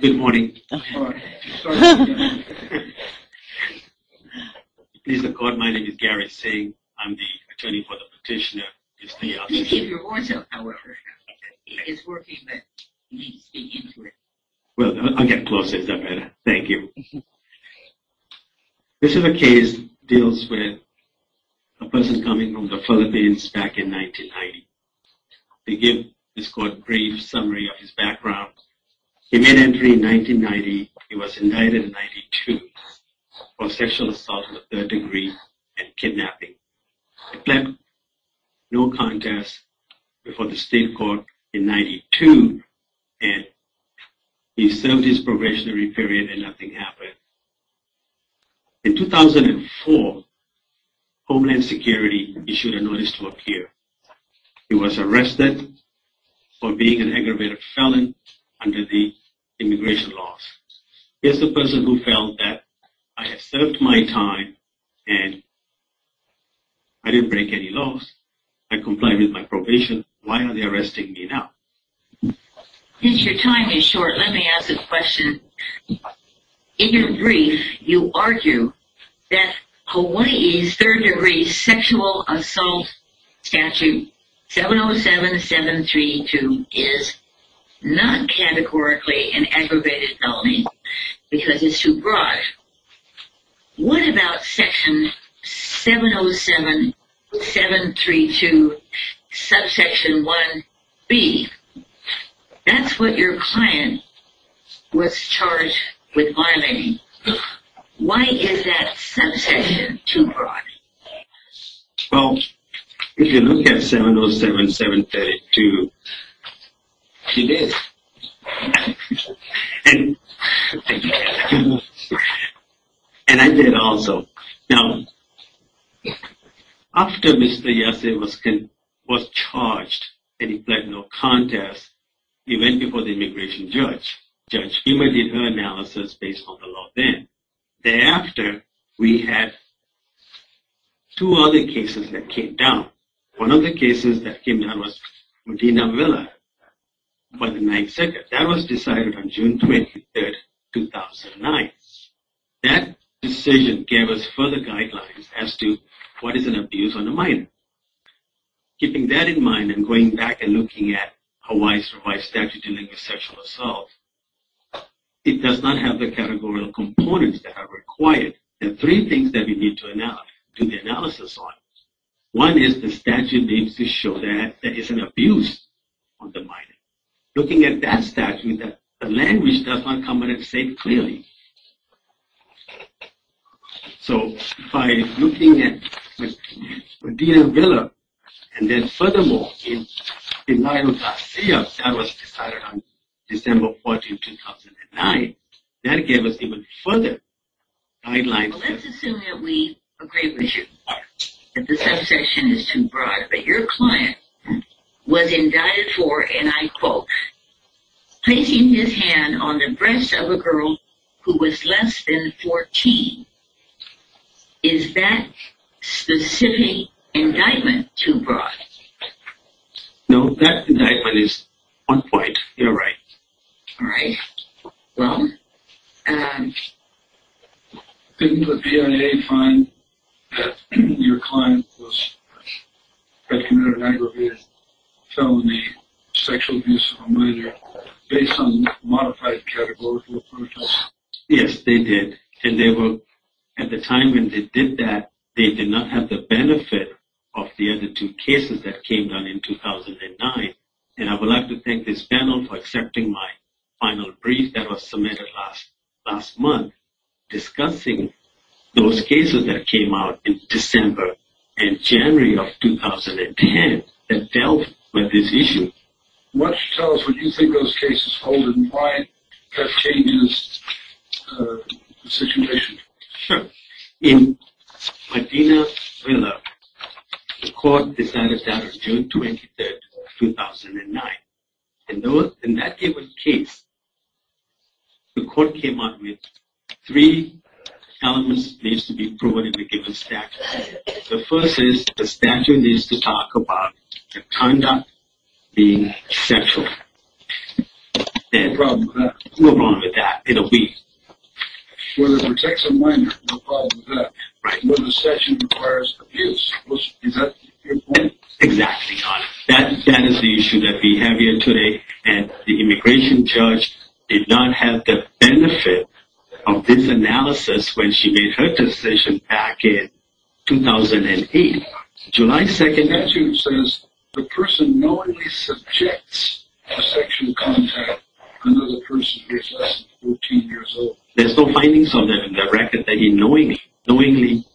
Good morning. Please record my name is Gary Singh. I'm the attorney for the petitioner. Please keep your voice up. It's working, but you need to speak into it. Well, I'll get closer. Is that better? Thank you. This is a case that deals with a person coming from the Philippines back in 1990. To give this court a brief summary of his background, he made entry in 1990. He was indicted in 1992 for sexual assault with a third degree and kidnapping. He pled no contest before the state court in 1992, and he served his probationary period and nothing happened. In 2004, Homeland Security issued a notice to appear. He was arrested for being an aggravated felon under the immigration laws. Here's the person who felt that I had served my time and I didn't break any laws. I complied with my probation. Why are they arresting me now? Since your time is short, let me ask a question. In your brief, you argue that Hawaii's third degree sexual assault statute 707-732 is not categorically an aggravated felony because it's too broad. What about section 707-732, subsection 1B? That's what your client was charged with violating. Why is that subsection too broad? Well, if you look at 707-732, it is. And I did also. Now, after Mr. Yase was charged and he pled no contest, he went before the immigration judge. Judge Humer did her analysis based on the law then. Thereafter, we had two other cases that came down. One of the cases that came down was Modena Villa by the 9th Circuit. That was decided on June 23, 2009. That decision gave us further guidelines as to what is an abuse on a minor. Keeping that in mind and going back and looking at Hawaii's revised statute dealing with sexual assault, it does not have the categorical components that are required. There are three things that we need to do the analysis on. One is the statute needs to show that there is an abuse on the minor. Looking at that statute, the language does not come out and say it clearly. So, by looking at Modena Villa, and then furthermore, in denial of seals, that was decided on December 14, 2009. That gave us even further guidelines. Well, let's assume that we agree with you that the subsection is too broad. But your client was indicted for, and I quote, placing his hand on the breast of a girl who was less than 14. Is that specific indictment too broad? No, that indictment is on point. You're right. All right. Well, didn't the PIA find that your client was having an aggravated felony sexual abuse on a minor based on modified categorical approaches? Yes, they did. And they were, at the time when they did that, they did not have the benefit of the other two cases that came down in 2009. And I would like to thank this panel for accepting my final brief that was submitted last month, discussing those cases that came out in December and January of 2010 that dealt with this issue. Why don't you tell us what you think those cases hold and why that changes the situation? Sure. In Medina Villa, the court decided that on June 23, 2009. In that given case, the court came up with three elements that needs to be provided in the given statute. The first is the statute needs to talk about the conduct being sexual. What's the problem with that? What's wrong with that? It'll be. Whether it protects a minor, what's the problem with that? Right. Whether the section requires abuse. Is that your point? Exactly. That is the issue that we have here today. And the immigration judge did not have the benefit of this analysis when she made her decision back in 2008. The statute says the person knowingly subjects a sexual contact to another person who is less than 14 years old. There's no findings on the record that he knowingly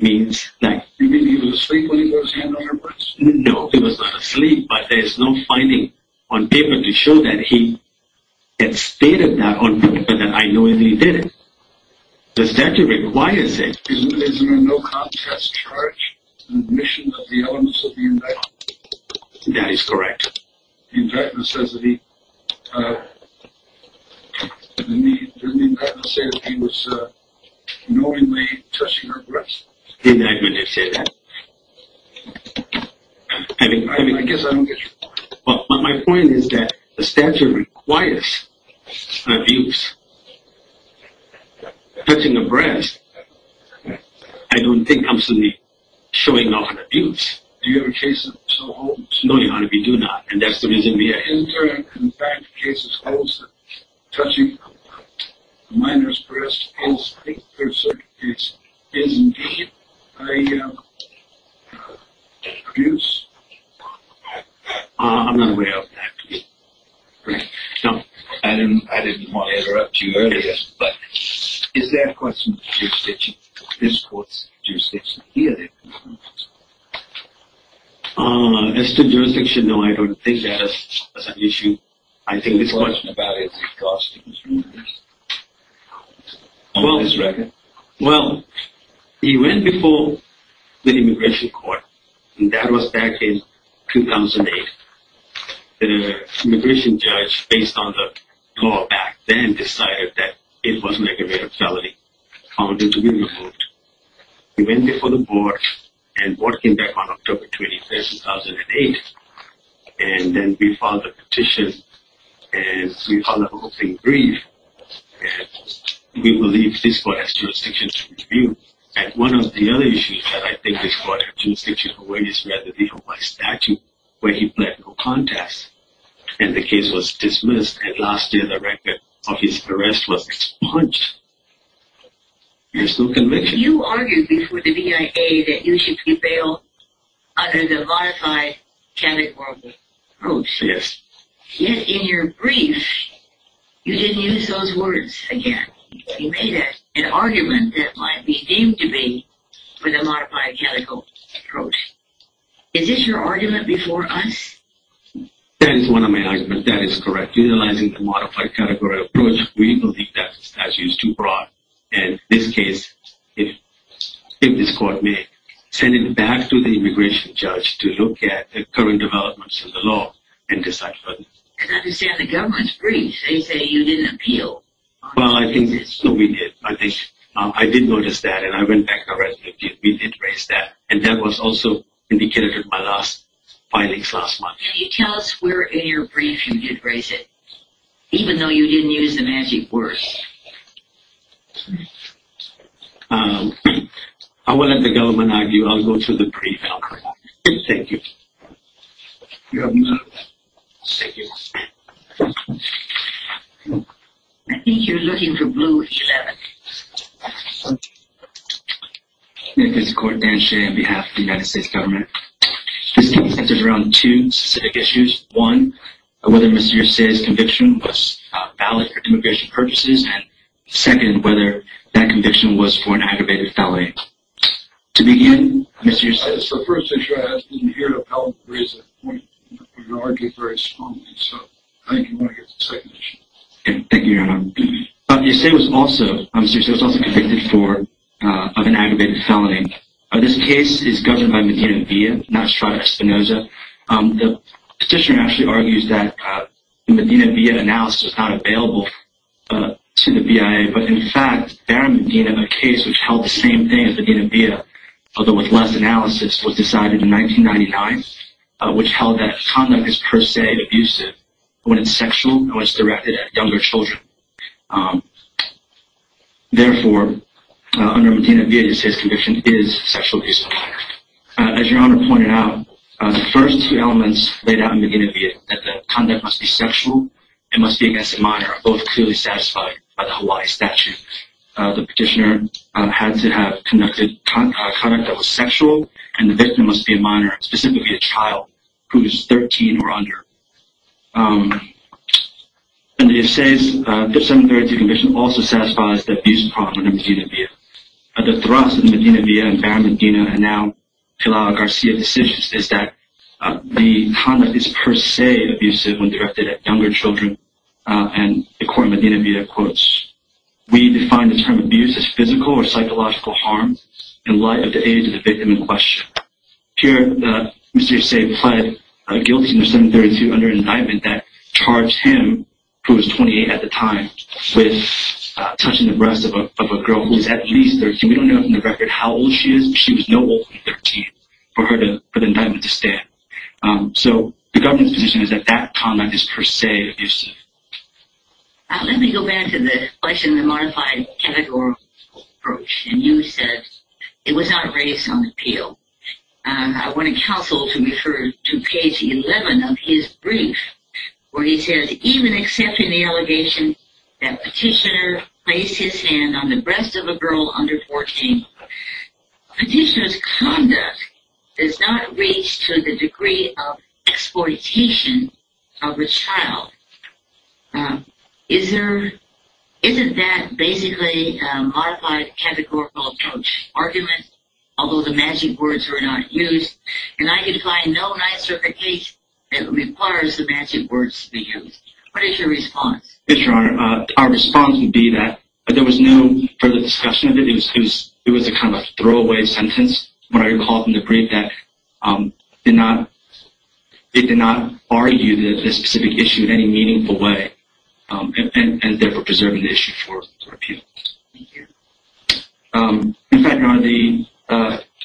means that. You mean he was asleep when he put his hand on her breasts? No, he was not asleep, but there's no finding on paper to show that he had stated that on paper, that I knowingly did it. The statute requires it. Isn't there no contest charge in the mission of the elements of the indictment? That is correct. The indictment says that he was knowingly touching her breasts. The indictment did say that. I guess I don't get your point. My point is that the statute requires abuse. Touching a breast, I don't think comes to me showing off an abuse. Do you have a case that so holds? No, Your Honor, we do not, and that's the reason we are here. Isn't there, in fact, a case that holds that touching a minor's breasts is indeed an abuse? I'm not aware of that case. I didn't want to interrupt you earlier, but is there a question of jurisdiction? Is this court's jurisdiction here? As to jurisdiction, no, I don't think that is an issue. I think this court... The question about it is, is it God's doing? On this record? Well, he went before the immigration court, and that was back in 2008. The immigration judge, based on the law back then, decided that it was an aggravated felony, found it to be removed. He went before the board, and the board came back on October 21, 2008. And then we filed a petition, and we filed a hoping brief. And we believe this court has jurisdiction to review. And one of the other issues that I think this court has jurisdiction to review is rather the Hawaii statute, where he pled no contest. And the case was dismissed, and last year the record of his arrest was expunged. There's no conviction. You argued before the BIA that you should prevail under the modified category approach. Yes. Yet in your brief, you didn't use those words again. You made an argument that might be deemed to be for the modified category approach. Is this your argument before us? That is one of my arguments. That is correct. Without utilizing the modified category approach, we believe that the statute is too broad. And in this case, if this court may, send it back to the immigration judge to look at the current developments in the law and decide further. I understand the government's brief. They say you didn't appeal. Well, I think we did. I did notice that, and I went back to our resume. We did raise that. And that was also indicated in my last filing last month. Can you tell us where in your brief you did raise it, even though you didn't use the magic words? I won't let the government argue. I'll go to the brief and I'll correct it. Thank you. You're welcome. Thank you. I think you're looking for blue 11. This is Court Dan Shea on behalf of the United States government. This case centers around two specific issues. One, whether Mr. Yersay's conviction was valid for immigration purposes. And second, whether that conviction was for an aggravated felony. To begin, Mr. Yersay. The first issue I ask is, did you hear the appellant raise that point? You argued very strongly, so I think you want to get to the second issue. Thank you, Your Honor. Mr. Yersay was also convicted of an aggravated felony. This case is governed by Medina-Bia, not Strada Espinoza. The petitioner actually argues that Medina-Bia analysis was not available to the BIA. But, in fact, Barron Medina, a case which held the same thing as Medina-Bia, although with less analysis, was decided in 1999, which held that conduct is, per se, abusive when it's sexual and was directed at younger children. Therefore, under Medina-Bia, Yersay's conviction is sexual abuse of a minor. As Your Honor pointed out, the first two elements laid out in Medina-Bia, that the conduct must be sexual and must be against a minor, are both clearly satisfied by the Hawaii statute. The petitioner had to have conducted conduct that was sexual, and the victim must be a minor, specifically a child who is 13 or under. Under Yersay's 5732 conviction also satisfies the abuse problem under Medina-Bia. The thrust of the Medina-Bia and Barron Medina, and now Pilar Garcia decisions, is that the conduct is, per se, abusive when directed at younger children. According to Medina-Bia, we define the term abuse as physical or psychological harm in light of the age of the victim in question. Here, Mr. Yersay pled guilty under 732 under an indictment that charged him, who was 28 at the time, with touching the breasts of a girl who was at least 13. We don't know from the record how old she is, but she was no older than 13 for the indictment to stand. So, the government's position is that that conduct is, per se, abusive. Let me go back to the question of the modified categorical approach. You said it was not raised on appeal. I want to counsel to refer to page 11 of his brief, where he says, even except in the allegation that petitioner placed his hand on the breast of a girl under 14, a petitioner's conduct is not raised to the degree of exploitation of a child. Isn't that basically a modified categorical approach argument, although the magic words were not used? And I can find no nicer case that requires the magic words to be used. What is your response? Yes, Your Honor, our response would be that there was no further discussion of it. It was a kind of a throwaway sentence, what I recall from the brief, that it did not argue this specific issue in any meaningful way, and therefore preserving the issue for appeal. Thank you. In fact, Your Honor, the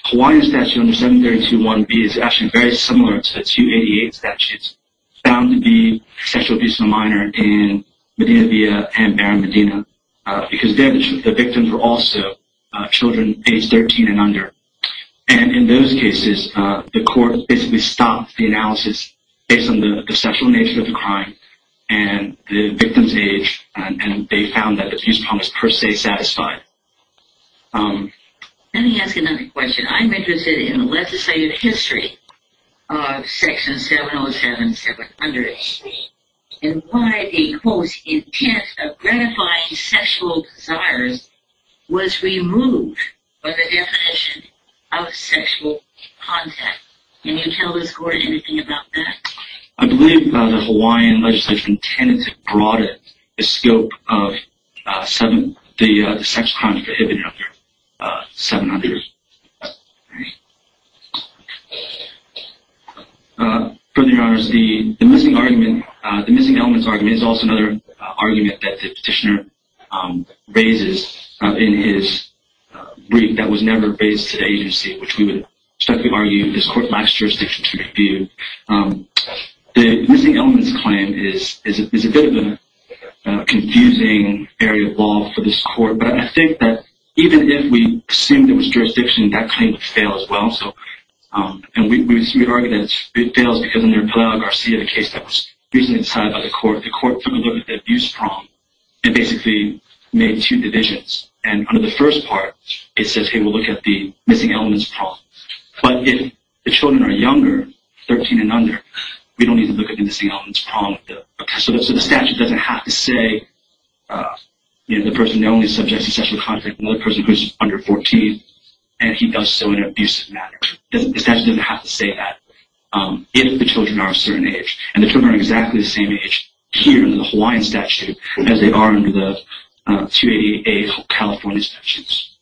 Hawaiian statute under 732.1b is actually very similar to 288 statutes, found to be sexual abuse of a minor in Medina Villa and Barron Medina, because then the victims were also children age 13 and under. And in those cases, the court basically stopped the analysis based on the sexual nature of the crime and the victim's age, and they found that the abuse problem was per se satisfied. Let me ask another question. I'm interested in the legislative history of Section 707.700 and why the, quote, intent of gratifying sexual desires was removed by the definition of sexual contact. Can you tell us, Gordon, anything about that? I believe the Hawaiian legislation tended to broaden the scope of the sex crimes prohibited under 700. Further, Your Honors, the missing elements argument is also another argument that the petitioner raises in his brief that was never raised to the agency, which we would expect to argue this court lacks jurisdiction to review. The missing elements claim is a bit of a confusing area of law for this court, but I think that even if we assumed there was jurisdiction, that claim would fail as well. And we would argue that it fails because under Pelaya-Garcia, the case that was recently decided by the court, the court took a look at the abuse problem and basically made two divisions. And under the first part, it says, hey, we'll look at the missing elements problem. But if the children are younger, 13 and under, we don't need to look at the missing elements problem. So the statute doesn't have to say the person only subjects to sexual contact with another person who is under 14, and he does so in an abusive manner. The statute doesn't have to say that if the children are a certain age. And the children are exactly the same age here in the Hawaiian statute as they are under the 288A California statutes.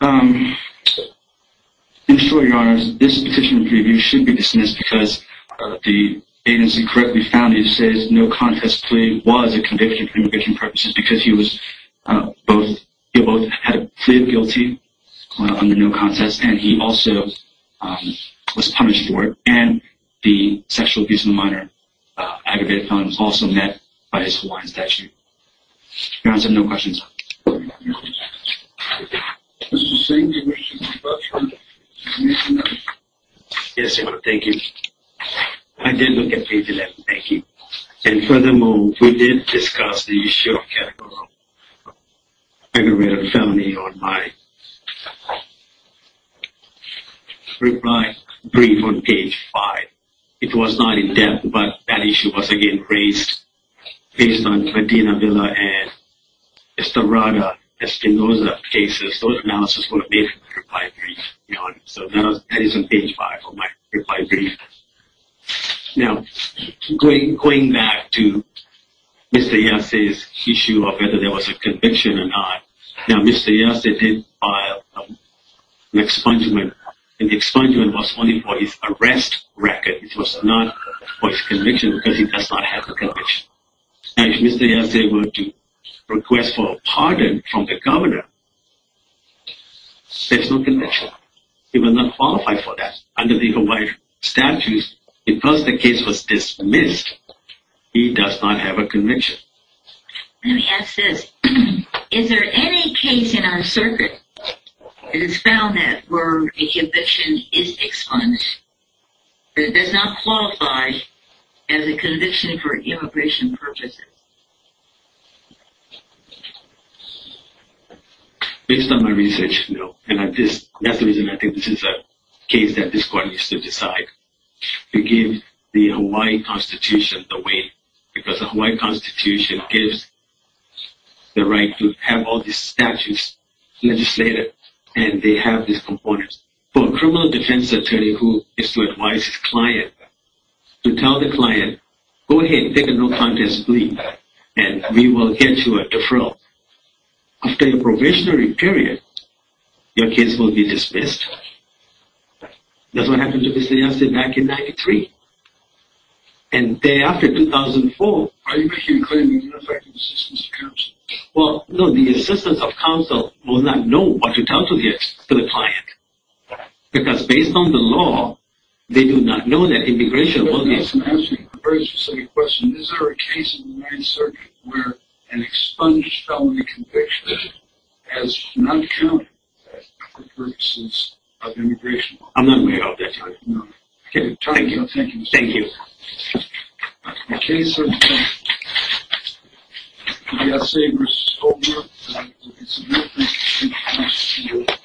I'm sure, Your Honors, this petition should be dismissed because the agency correctly found that it says no contest plea was a conviction for conviction purposes because he both had pleaded guilty under no contest, and he also was punished for it. And the sexual abuse in the minor aggravated felon was also met by his Hawaiian statute. Your Honors, I have no questions. Mr. Singh, did you have a question? Yes, Your Honor, thank you. I did look at page 11, thank you. And furthermore, we did discuss the issue of categorical aggravated felony on my reply brief on page 5. It was not in-depth, but that issue was again raised based on Medina Villa and Estorada Estenosa cases. Those analysis were made for my reply brief, Your Honor. So that is on page 5 of my reply brief. Now, going back to Mr. Yersey's issue of whether there was a conviction or not, now, Mr. Yersey did file an expungement, and the expungement was only for his arrest record. It was not for his conviction because he does not have a conviction. Now, if Mr. Yersey were to request for a pardon from the governor, there's no conviction. He was not qualified for that. Under the Hawaii statutes, because the case was dismissed, he does not have a conviction. Let me ask this. Is there any case in our circuit that has found that where a conviction is expunged, it does not qualify as a conviction for immigration purposes? Based on my research, no. And that's the reason I think this is a case that this Court needs to decide. We give the Hawaii Constitution the win because the Hawaii Constitution gives the right to have all these statutes legislated, and they have these components. For a criminal defense attorney who is to advise his client, to tell the client, go ahead, take a no contest plea, and we will get you a deferral. After a provisionary period, your case will be dismissed. That's what happened to Mr. Yersey back in 1993. And thereafter, 2004... Are you making a claim of ineffective assistance of counsel? Well, no. The assistance of counsel will not know what to tell to the client. Because based on the law, they do not know that immigration will be... Let me ask you a very specific question. Is there a case in the Ninth Circuit where an expunged felony conviction has not counted for purposes of immigration law? I'm not aware of that, Your Honor. Okay. Thank you. Thank you. In the case of Yersey v. Stoltenberg...